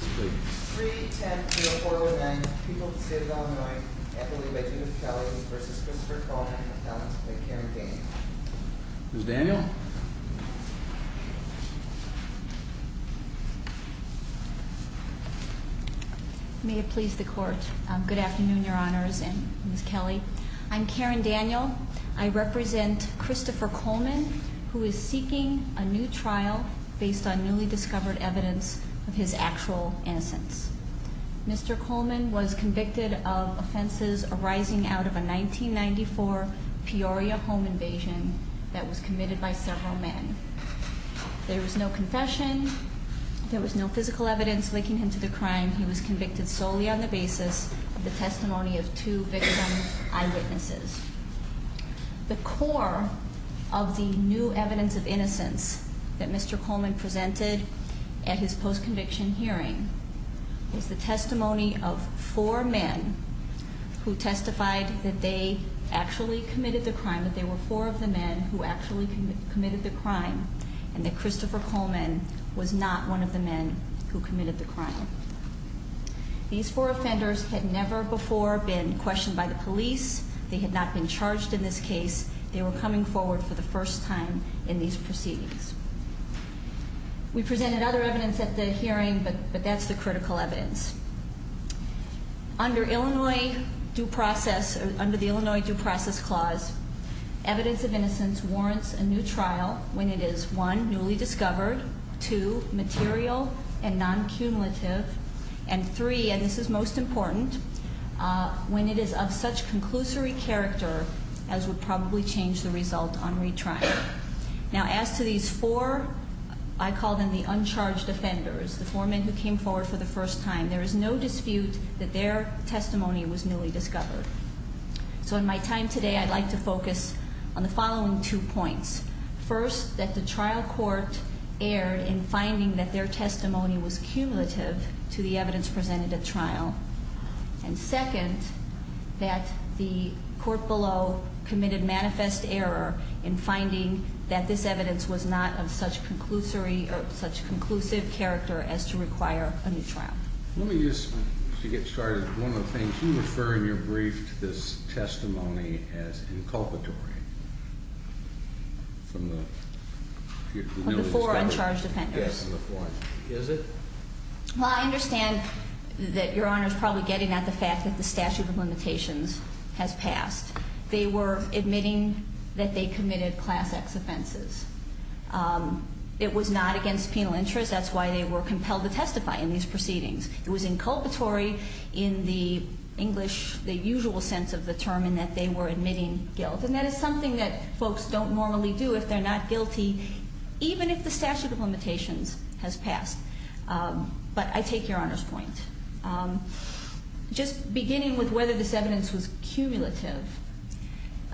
3-10-404-9 People of the State of Illinois, Equally by Judith Kelley v. Christopher Coleman, Appellant Karen Daniel. Ms. Daniel? May it please the Court. Good afternoon, Your Honors, and Ms. Kelley. I'm Karen Daniel. I represent Christopher Coleman, who is seeking a new trial based on newly discovered evidence of his actual innocence. Mr. Coleman was convicted of offenses arising out of a 1994 Peoria home invasion that was committed by several men. There was no confession. There was no physical evidence linking him to the crime. He was convicted solely on the basis of the testimony of two victim eyewitnesses. The core of the new evidence of innocence that Mr. Coleman presented at his post-conviction hearing was the testimony of four men who testified that they actually committed the crime, that there were four of the men who actually committed the crime, and that Christopher Coleman was not one of the men who committed the crime. These four offenders had never before been questioned by the police. They had not been charged in this case. They were coming forward for the first time in these proceedings. We presented other evidence at the hearing, but that's the critical evidence. Under the Illinois Due Process Clause, evidence of innocence warrants a new trial when it is, one, newly discovered, two, material and non-cumulative, and three, and this is most important, when it is of such conclusory character as would probably change the result on retrial. Now, as to these four, I call them the uncharged offenders, the four men who came forward for the first time, there is no dispute that their testimony was newly discovered. So in my time today, I'd like to focus on the following two points. First, that the trial court erred in finding that their testimony was cumulative to the evidence presented at trial, and second, that the court below committed manifest error in finding that this evidence was not of such conclusive character as to require a new trial. Let me just, to get started, one of the things, you refer in your brief to this testimony as inculpatory. Of the four uncharged offenders. Yes, of the four. Is it? Well, I understand that Your Honor is probably getting at the fact that the statute of limitations has passed. They were admitting that they committed Class X offenses. It was not against penal interest, that's why they were compelled to testify in these proceedings. It was inculpatory in the English, the usual sense of the term, in that they were admitting guilt, and that is something that folks don't normally do if they're not guilty, even if the statute of limitations has passed. But I take Your Honor's point. Just beginning with whether this evidence was cumulative,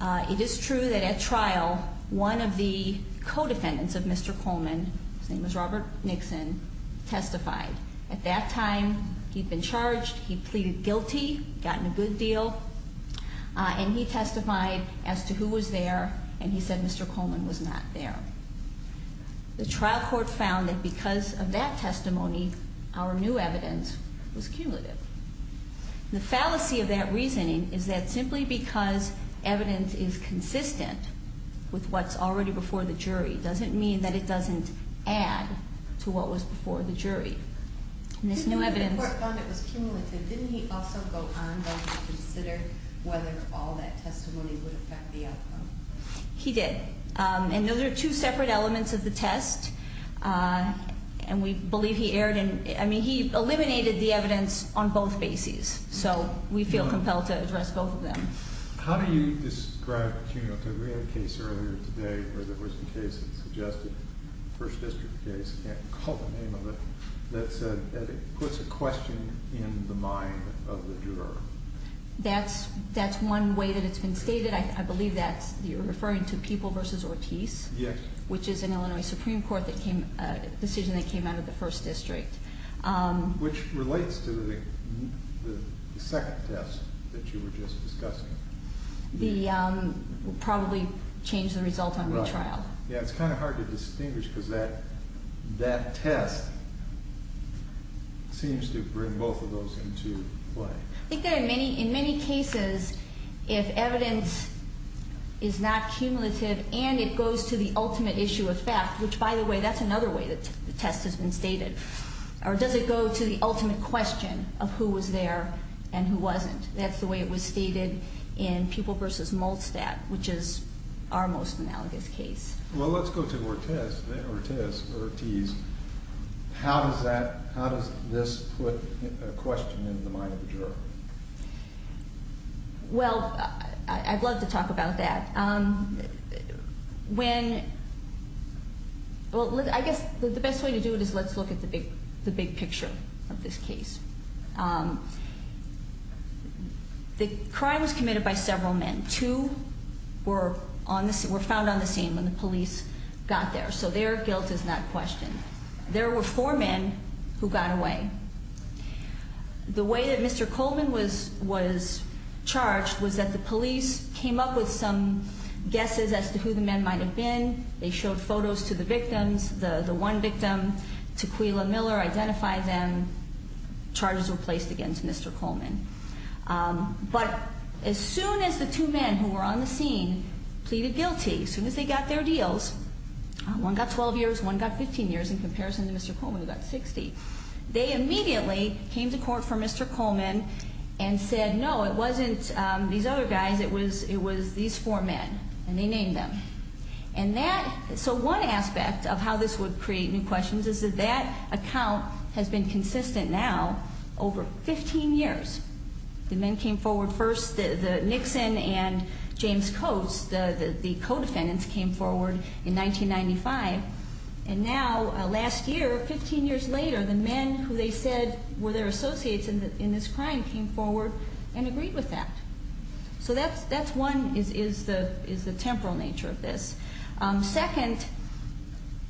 it is true that at trial, one of the co-defendants of Mr. Coleman, his name was Robert Nixon, testified. At that time, he'd been charged, he'd pleaded guilty, gotten a good deal, and he testified as to who was there, and he said Mr. Coleman was not there. The trial court found that because of that testimony, our new evidence was cumulative. The fallacy of that reasoning is that simply because evidence is consistent with what's already before the jury doesn't mean that it doesn't add to what was before the jury. And this new evidence... The court found it was cumulative. Didn't he also go on to consider whether all that testimony would affect the outcome? He did. And those are two separate elements of the test, and we believe he erred in... I mean, he eliminated the evidence on both bases, so we feel compelled to address both of them. How do you describe cumulative? We had a case earlier today where there was a case that suggested, First District case, can't recall the name of it, that puts a question in the mind of the juror. That's one way that it's been stated. I believe that you're referring to People v. Ortiz... Yes. ...which is an Illinois Supreme Court decision that came out of the First District. Which relates to the second test that you were just discussing. The... Probably changed the result on retrial. Right. Yeah, it's kind of hard to distinguish because that test seems to bring both of those into play. I think that in many cases, if evidence is not cumulative and it goes to the ultimate issue of fact, which, by the way, that's another way that the test has been stated, or does it go to the ultimate question of who was there and who wasn't? That's the way it was stated in People v. Molstad, which is our most analogous case. Well, let's go to Ortiz. How does that... How does this put a question in the mind of the juror? Well, I'd love to talk about that. When... Well, I guess the best way to do it is let's look at the big picture of this case. The crime was committed by several men. Two were found on the scene when the police got there, so their guilt is not questioned. There were four men who got away. The way that Mr. Coleman was charged was that the police came up with some guesses as to who the men might have been. They showed photos to the victims. The one victim, Tequila Miller, identified them. Charges were placed against Mr. Coleman. But as soon as the two men who were on the scene pleaded guilty, as soon as they got their deals, one got 12 years, one got 15 years in comparison to Mr. Coleman, who got 60, they immediately came to court for Mr. Coleman and said, no, it wasn't these other guys, it was these four men, and they named them. And that... So one aspect of how this would create new questions is that that account has been consistent now over 15 years. The men came forward first, the Nixon and James Coates, the co-defendants came forward in 1995, and now last year, 15 years later, the men who they said were their associates in this crime came forward and agreed with that. So that's one, is the temporal nature of this. Second,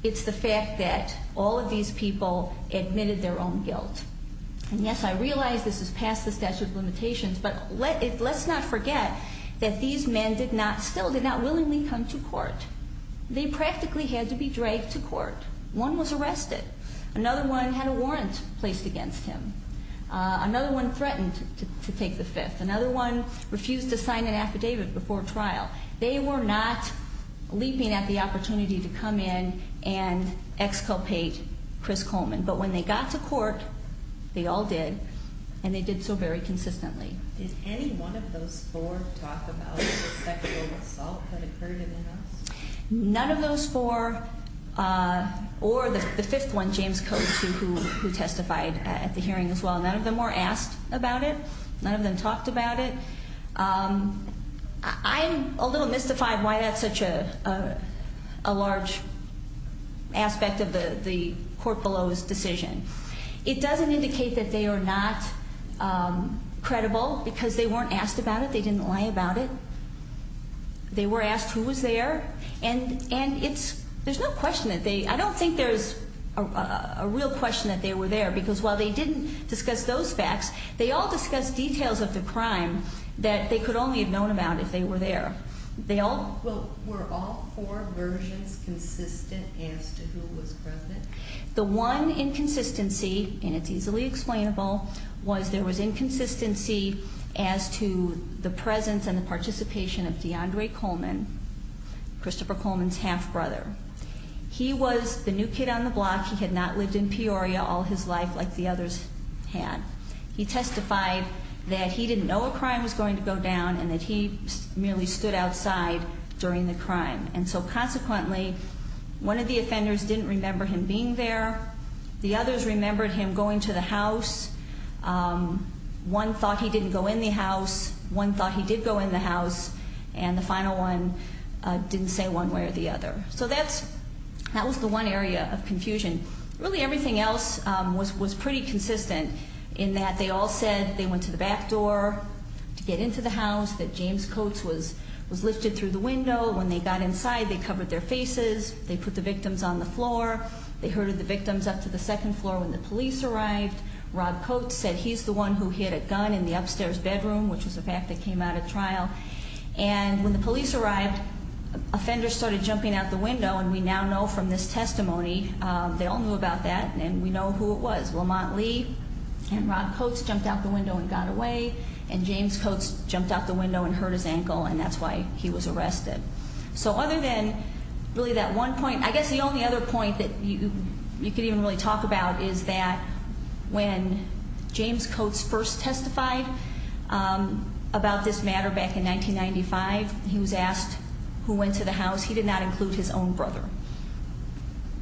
it's the fact that all of these people admitted their own guilt. And yes, I realize this is past the statute of limitations, but let's not forget that these men still did not willingly come to court. They practically had to be dragged to court. One was arrested. Another one had a warrant placed against him. Another one threatened to take the fifth. Another one refused to sign an affidavit before trial. They were not leaping at the opportunity to come in and exculpate Chris Coleman. But when they got to court, they all did, and they did so very consistently. Did any one of those four talk about the sexual assault that occurred in the house? None of those four, or the fifth one, James Coates, who testified at the hearing as well, none of them were asked about it. None of them talked about it. I'm a little mystified why that's such a large aspect of the court below's decision. It doesn't indicate that they are not credible because they weren't asked about it. They didn't lie about it. They were asked who was there, and there's no question that they... I don't think there's a real question that they were there because while they didn't discuss those facts, they all discussed details of the crime that they could only have known about if they were there. They all... Well, were all four versions consistent as to who was present? The one inconsistency, and it's easily explainable, was there was inconsistency as to the presence and the participation of DeAndre Coleman, Christopher Coleman's half-brother. He was the new kid on the block. He had not lived in Peoria all his life like the others had. He testified that he didn't know a crime was going to go down and that he merely stood outside during the crime. And so consequently, one of the offenders didn't remember him being there. The others remembered him going to the house. One thought he didn't go in the house. One thought he did go in the house. And the final one didn't say one way or the other. So that was the one area of confusion. Really everything else was pretty consistent in that they all said they went to the back door to get into the house, that James Coates was lifted through the window. When they got inside, they covered their faces. They put the victims on the floor. They herded the victims up to the second floor when the police arrived. Rob Coates said he's the one who hid a gun in the upstairs bedroom, which was a fact that came out at trial. And when the police arrived, that offender started jumping out the window, and we now know from this testimony, they all knew about that, and we know who it was. Lamont Lee and Rob Coates jumped out the window and got away, and James Coates jumped out the window and hurt his ankle, and that's why he was arrested. So other than really that one point, I guess the only other point that you could even really talk about is that when James Coates first testified about this matter back in 1995, he was asked who went to the house. He did not include his own brother.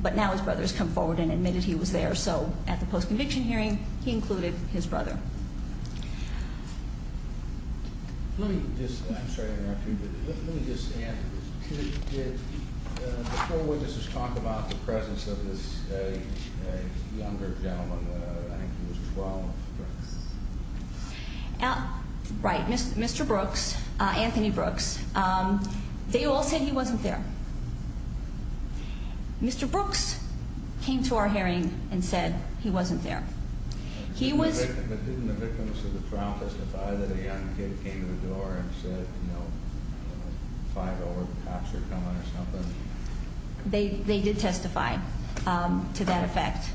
But now his brother has come forward and admitted he was there, so at the post-conviction hearing, he included his brother. Let me just, I'm sorry to interrupt you, but let me just add, did the co-witnesses talk about the presence of this younger gentleman? I think he was 12. Right. Mr. Brooks, Anthony Brooks, they all said he wasn't there. Mr. Brooks came to our hearing and said he wasn't there. Didn't the victim of the trial testify that a young kid came to the door and said, you know, 5-0 or the cops are coming or something? They did testify to that effect.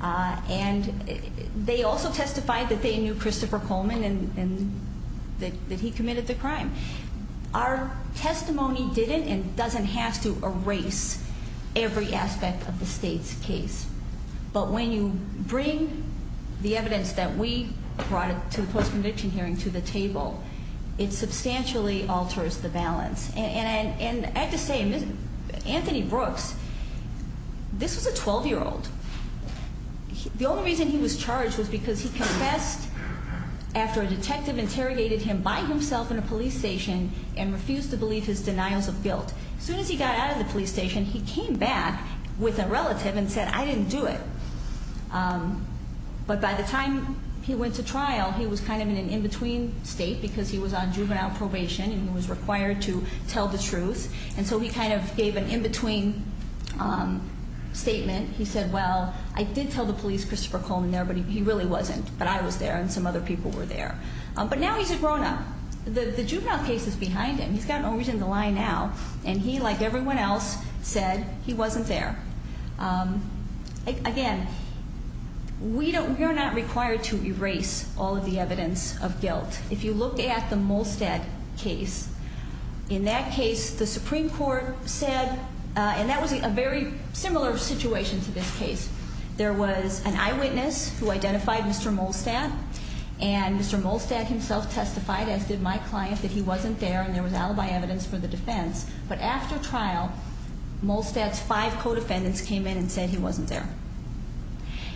And they also testified that they knew Christopher Coleman and that he committed the crime. Our testimony didn't and doesn't have to erase every aspect of the state's case. But when you bring the evidence that we brought to the post-conviction hearing to the table, it substantially alters the balance. And I have to say, Anthony Brooks, this was a 12-year-old. The only reason he was charged was because he confessed after a detective interrogated him by himself in a police station and refused to believe his denials of guilt. As soon as he got out of the police station, he came back with a relative and said, I didn't do it. But by the time he went to trial, he was kind of in an in-between state because he was on juvenile probation and he was required to tell the truth. And so he kind of gave an in-between statement. He said, well, I did tell the police Christopher Coleman there, but he really wasn't, but I was there and some other people were there. But now he's a grown-up. The juvenile case is behind him. He's got no reason to lie now. And he, like everyone else, said he wasn't there. Again, we are not required to erase all of the evidence of guilt. If you look at the Molstad case, in that case the Supreme Court said, and that was a very similar situation to this case. There was an eyewitness who identified Mr. Molstad, and Mr. Molstad himself testified, as did my client, that he wasn't there and there was alibi evidence for the defense. But after trial, Molstad's five co-defendants came in and said he wasn't there.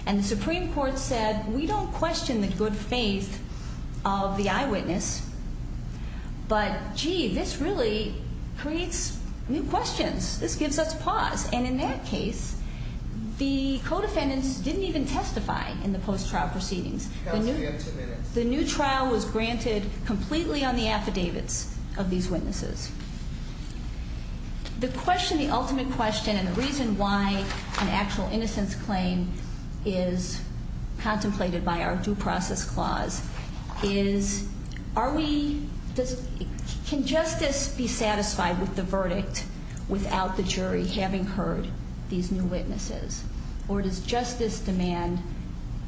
And the Supreme Court said, we don't question the good faith of the eyewitness, but, gee, this really creates new questions. This gives us pause. And in that case, the co-defendants didn't even testify in the post-trial proceedings. The new trial was granted completely on the affidavits of these witnesses. The question, the ultimate question, and the reason why an actual innocence claim is contemplated by our due process clause is, are we, can justice be satisfied with the verdict without the jury having heard these new witnesses? Or does justice demand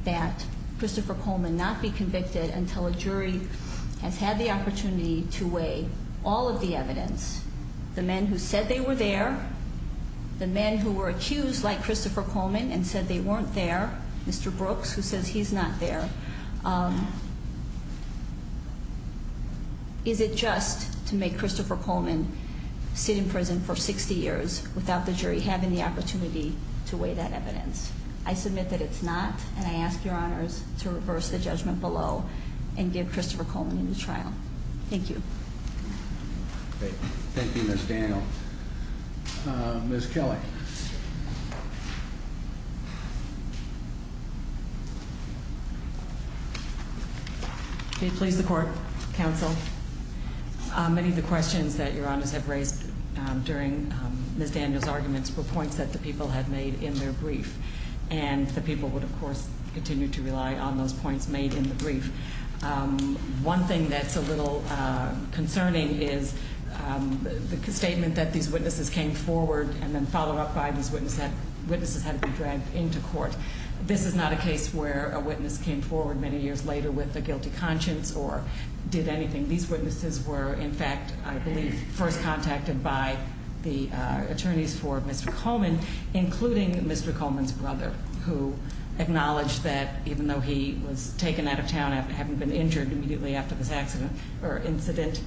that Christopher Coleman not be convicted until a jury has had the opportunity to weigh all of the evidence? The men who said they were there, the men who were accused like Christopher Coleman and said they weren't there, Mr. Brooks, who says he's not there. Is it just to make Christopher Coleman sit in prison for 60 years without the jury having the opportunity to weigh that evidence? I submit that it's not, and I ask your honors to reverse the judgment below and give Christopher Coleman a new trial. Thank you. Thank you, Ms. Daniel. Ms. Kelly. Please support counsel. Many of the questions that your honors have raised during Ms. Daniel's arguments were points that the people had made in their brief, and the people would, of course, continue to rely on those points made in the brief. One thing that's a little concerning is the statement that these witnesses came forward and then followed up by these witnesses had to be dragged into court. This is not a case where a witness came forward many years later with a guilty conscience or did anything. These witnesses were, in fact, I believe, first contacted by the attorneys for Mr. Coleman, including Mr. Coleman's brother, who acknowledged that even though he was taken out of town and hadn't been injured immediately after this accident or incident,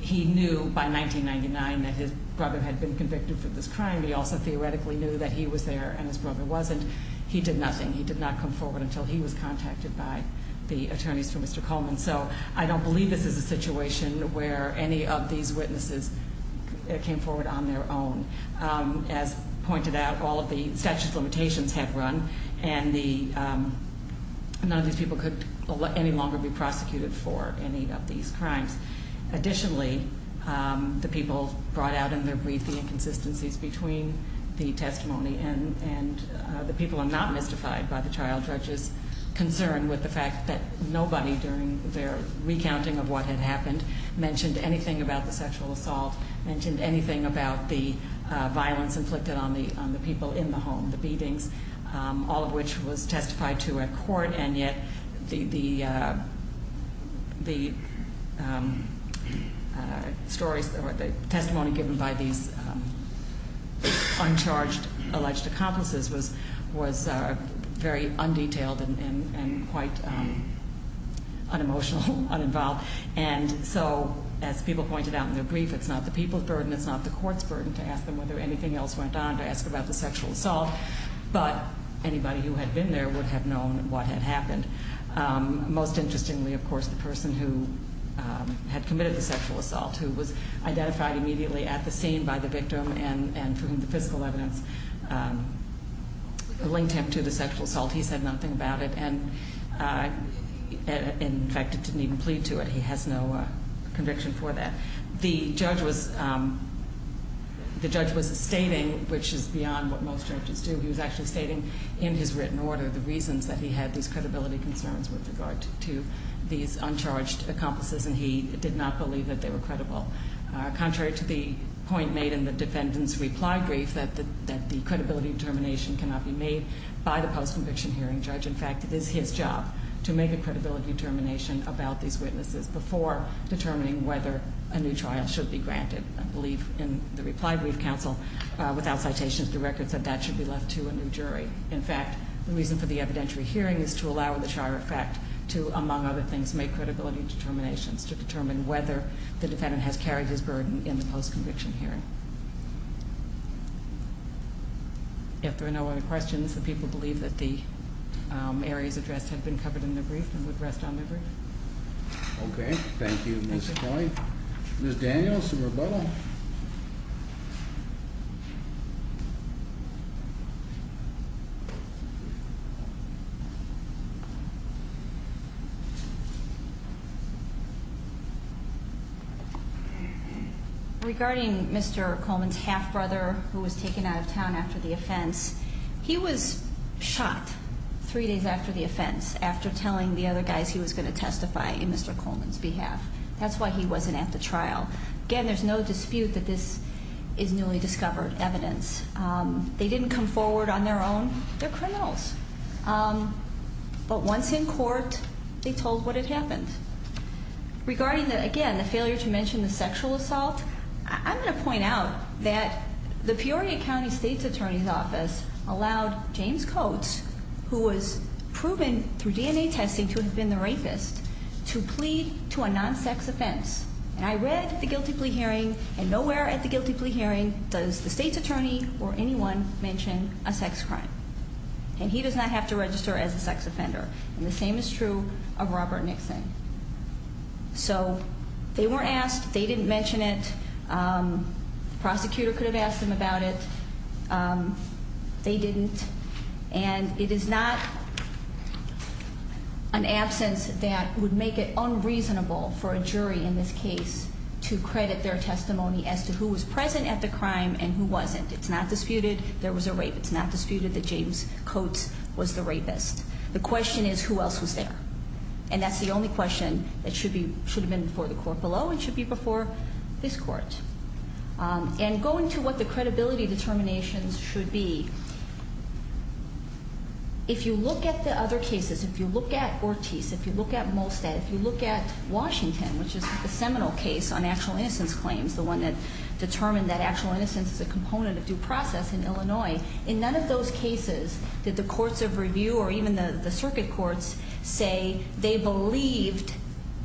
he knew by 1999 that his brother had been convicted for this crime. He also theoretically knew that he was there and his brother wasn't. He did nothing. He did not come forward until he was contacted by the attorneys for Mr. Coleman. So I don't believe this is a situation where any of these witnesses came forward on their own. As pointed out, all of the statute of limitations had run, and none of these people could any longer be prosecuted for any of these crimes. Additionally, the people brought out in their brief the inconsistencies between the testimony and the people are not mystified by the child judge's concern with the fact that nobody, during their recounting of what had happened, mentioned anything about the sexual assault, mentioned anything about the violence inflicted on the people in the home, the beatings, all of which was testified to at court. And yet the stories or the testimony given by these uncharged alleged accomplices was very undetailed and quite unemotional, uninvolved. And so, as people pointed out in their brief, it's not the people's burden. It's not the court's burden to ask them whether anything else went on, to ask about the sexual assault. But anybody who had been there would have known what had happened. Most interestingly, of course, the person who had committed the sexual assault, who was identified immediately at the scene by the victim and for whom the physical evidence linked him to the sexual assault, he said nothing about it and, in fact, didn't even plead to it. He has no conviction for that. The judge was stating, which is beyond what most judges do, he was actually stating in his written order the reasons that he had these credibility concerns with regard to these uncharged accomplices, and he did not believe that they were credible. Contrary to the point made in the defendant's reply brief, that the credibility determination cannot be made by the post-conviction hearing judge. In fact, it is his job to make a credibility determination about these witnesses before determining whether a new trial should be granted. I believe in the reply brief counsel, without citations, the record said that should be left to a new jury. In fact, the reason for the evidentiary hearing is to allow the Shire effect to, among other things, make credibility determinations to determine whether the defendant has carried his burden in the post-conviction hearing. If there are no other questions, the people believe that the areas addressed have been covered in the brief and would rest on their brief. Okay. Thank you, Ms. Coyne. Ms. Daniels, a rebuttal? Regarding Mr. Coleman's half-brother who was taken out of town after the offense, he was shot three days after the offense after telling the other guys he was going to testify in Mr. Coleman's behalf. That's why he wasn't at the trial. Again, there's no dispute that this is newly discovered evidence. They didn't come forward on their own. They're criminals. But once in court, they told what had happened. Regarding, again, the failure to mention the sexual assault, I'm going to point out that the Peoria County State's Attorney's Office allowed James Coates, who was proven through DNA testing to have been the rapist, to plead to a non-sex offense. And I read at the guilty plea hearing, and nowhere at the guilty plea hearing does the State's Attorney or anyone mention a sex crime. And he does not have to register as a sex offender. And the same is true of Robert Nixon. So they weren't asked. They didn't mention it. The prosecutor could have asked them about it. They didn't. And it is not an absence that would make it unreasonable for a jury in this case to credit their testimony as to who was present at the crime and who wasn't. It's not disputed there was a rape. It's not disputed that James Coates was the rapist. The question is who else was there. And that's the only question that should have been before the court below and should be before this court. And going to what the credibility determinations should be, if you look at the other cases, if you look at Ortiz, if you look at Molstad, if you look at Washington, which is the seminal case on actual innocence claims, the one that determined that actual innocence is a component of due process in Illinois, in none of those cases did the courts of review or even the circuit courts say they believed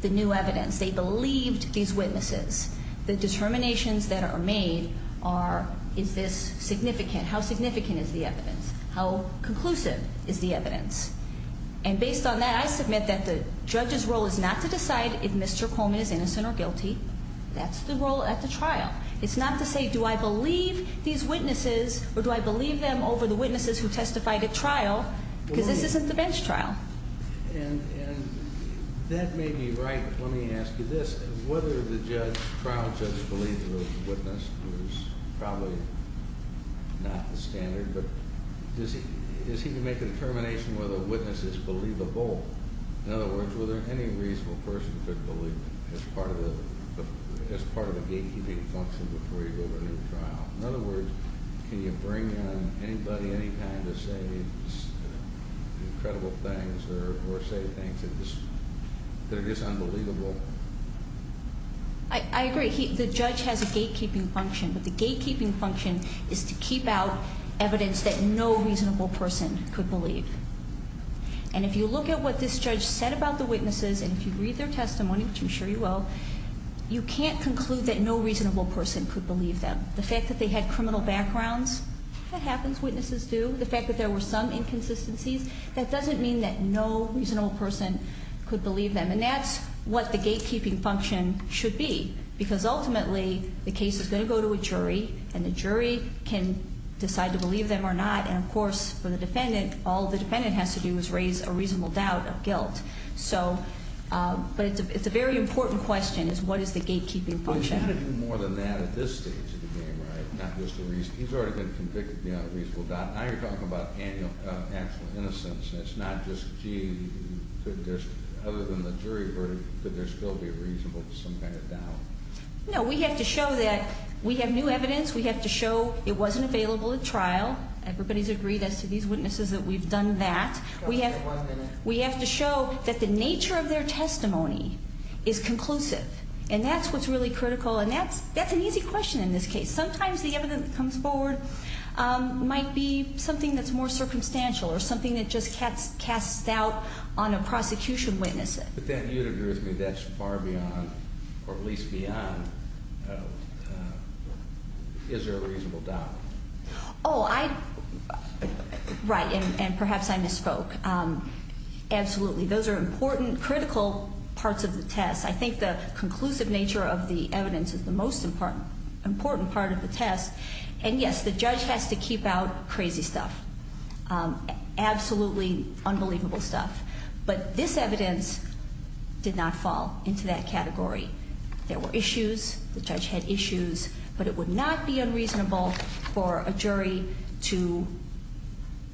the new evidence. They believed these witnesses. The determinations that are made are is this significant? How significant is the evidence? How conclusive is the evidence? And based on that, I submit that the judge's role is not to decide if Mr. Coleman is innocent or guilty. That's the role at the trial. It's not to say do I believe these witnesses or do I believe them over the witnesses who testified at trial because this isn't the bench trial. And that may be right, but let me ask you this. Whether the trial judge believed the witness was probably not the standard, but does he make a determination whether a witness is believable? In other words, was there any reasonable person who could believe as part of a gatekeeping function before you go to a new trial? In other words, can you bring in anybody, any kind, to say incredible things or say things that are just unbelievable? I agree. The judge has a gatekeeping function, but the gatekeeping function is to keep out evidence that no reasonable person could believe. And if you look at what this judge said about the witnesses, and if you read their testimony, which I'm sure you will, you can't conclude that no reasonable person could believe them. The fact that they had criminal backgrounds, that happens. Witnesses do. The fact that there were some inconsistencies, that doesn't mean that no reasonable person could believe them. And that's what the gatekeeping function should be because ultimately the case is going to go to a jury and the jury can decide to believe them or not. And, of course, for the defendant, all the defendant has to do is raise a reasonable doubt of guilt. But it's a very important question is what is the gatekeeping function. But you've got to do more than that at this stage of the game, right? Not just a reason. He's already been convicted beyond a reasonable doubt. Now you're talking about actual innocence. It's not just, gee, other than the jury verdict, could there still be a reasonable, some kind of doubt? No. We have to show that we have new evidence. We have to show it wasn't available at trial. Everybody's agreed as to these witnesses that we've done that. We have to show that the nature of their testimony is conclusive. And that's what's really critical, and that's an easy question in this case. Sometimes the evidence that comes forward might be something that's more circumstantial or something that just casts doubt on a prosecution witness. But then you'd agree with me that's far beyond, or at least beyond, is there a reasonable doubt? Oh, I, right, and perhaps I misspoke. Those are important, critical parts of the test. I think the conclusive nature of the evidence is the most important part of the test. And, yes, the judge has to keep out crazy stuff, absolutely unbelievable stuff. But this evidence did not fall into that category. There were issues. The judge had issues. But it would not be unreasonable for a jury to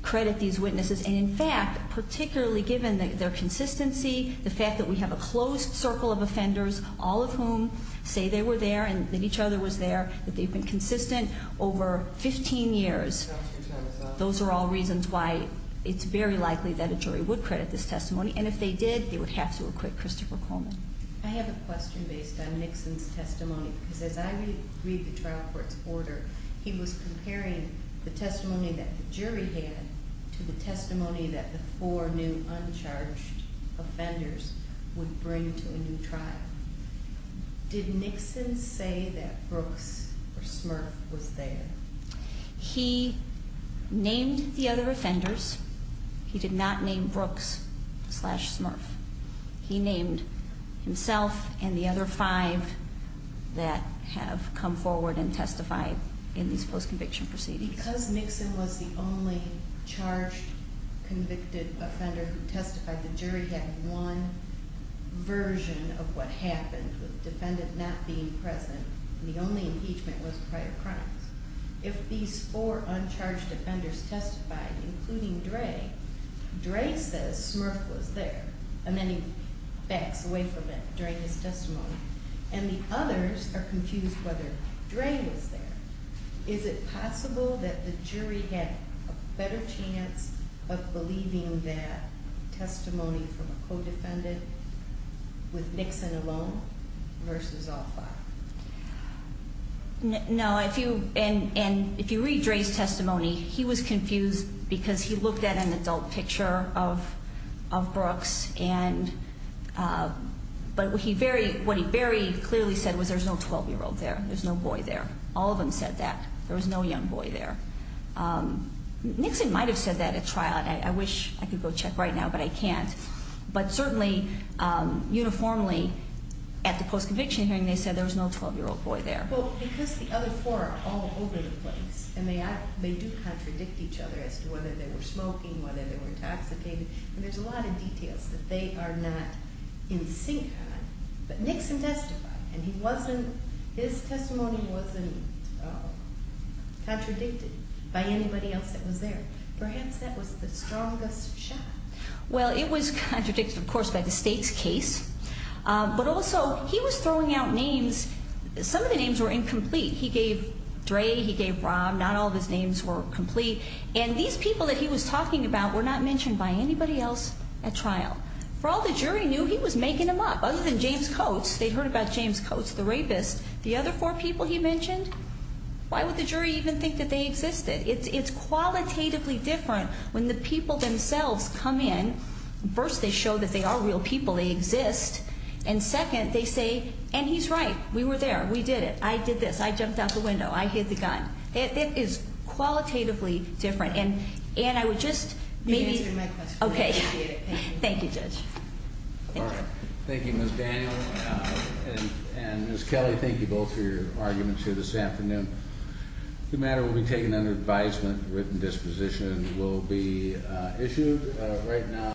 credit these witnesses. And, in fact, particularly given their consistency, the fact that we have a closed circle of offenders, all of whom say they were there and that each other was there, that they've been consistent over 15 years, those are all reasons why it's very likely that a jury would credit this testimony. And if they did, they would have to acquit Christopher Coleman. I have a question based on Nixon's testimony, because as I read the trial court's order, he was comparing the testimony that the jury had to the testimony that the four new uncharged offenders would bring to a new trial. Did Nixon say that Brooks or Smurf was there? He named the other offenders. He did not name Brooks slash Smurf. He named himself and the other five that have come forward and testified in these post-conviction proceedings. Because Nixon was the only charged convicted offender who testified, the jury had one version of what happened with the defendant not being present, and the only impeachment was prior crimes. If these four uncharged offenders testified, including Dray, Dray says Smurf was there, and then he backs away from it during his testimony, and the others are confused whether Dray was there. Is it possible that the jury had a better chance of believing that testimony from a co-defendant with Nixon alone versus all five? No, and if you read Dray's testimony, he was confused because he looked at an adult picture of Brooks, but what he very clearly said was there's no 12-year-old there. There's no boy there. All of them said that. There was no young boy there. Nixon might have said that at trial. I wish I could go check right now, but I can't. But certainly, uniformly, at the post-conviction hearing, they said there was no 12-year-old boy there. Well, because the other four are all over the place, and they do contradict each other as to whether they were smoking, whether they were intoxicated, and there's a lot of details that they are not in sync on, but Nixon testified, and his testimony wasn't contradicted by anybody else that was there. Perhaps that was the strongest shot. Well, it was contradicted, of course, by the stakes case, but also he was throwing out names. Some of the names were incomplete. He gave Dray. He gave Rob. Not all of his names were complete, and these people that he was talking about were not mentioned by anybody else at trial. For all the jury knew, he was making them up. Other than James Coates, they'd heard about James Coates, the rapist. The other four people he mentioned, why would the jury even think that they existed? It's qualitatively different when the people themselves come in. First, they show that they are real people. They exist, and second, they say, and he's right. We were there. We did it. I did this. I jumped out the window. I hid the gun. It is qualitatively different, and I would just maybe. You answered my question. Okay. Thank you, Judge. All right. Thank you, Ms. Daniel, and Ms. Kelly. Thank you both for your arguments here this afternoon. The matter will be taken under advisement. A written disposition will be issued. Right now.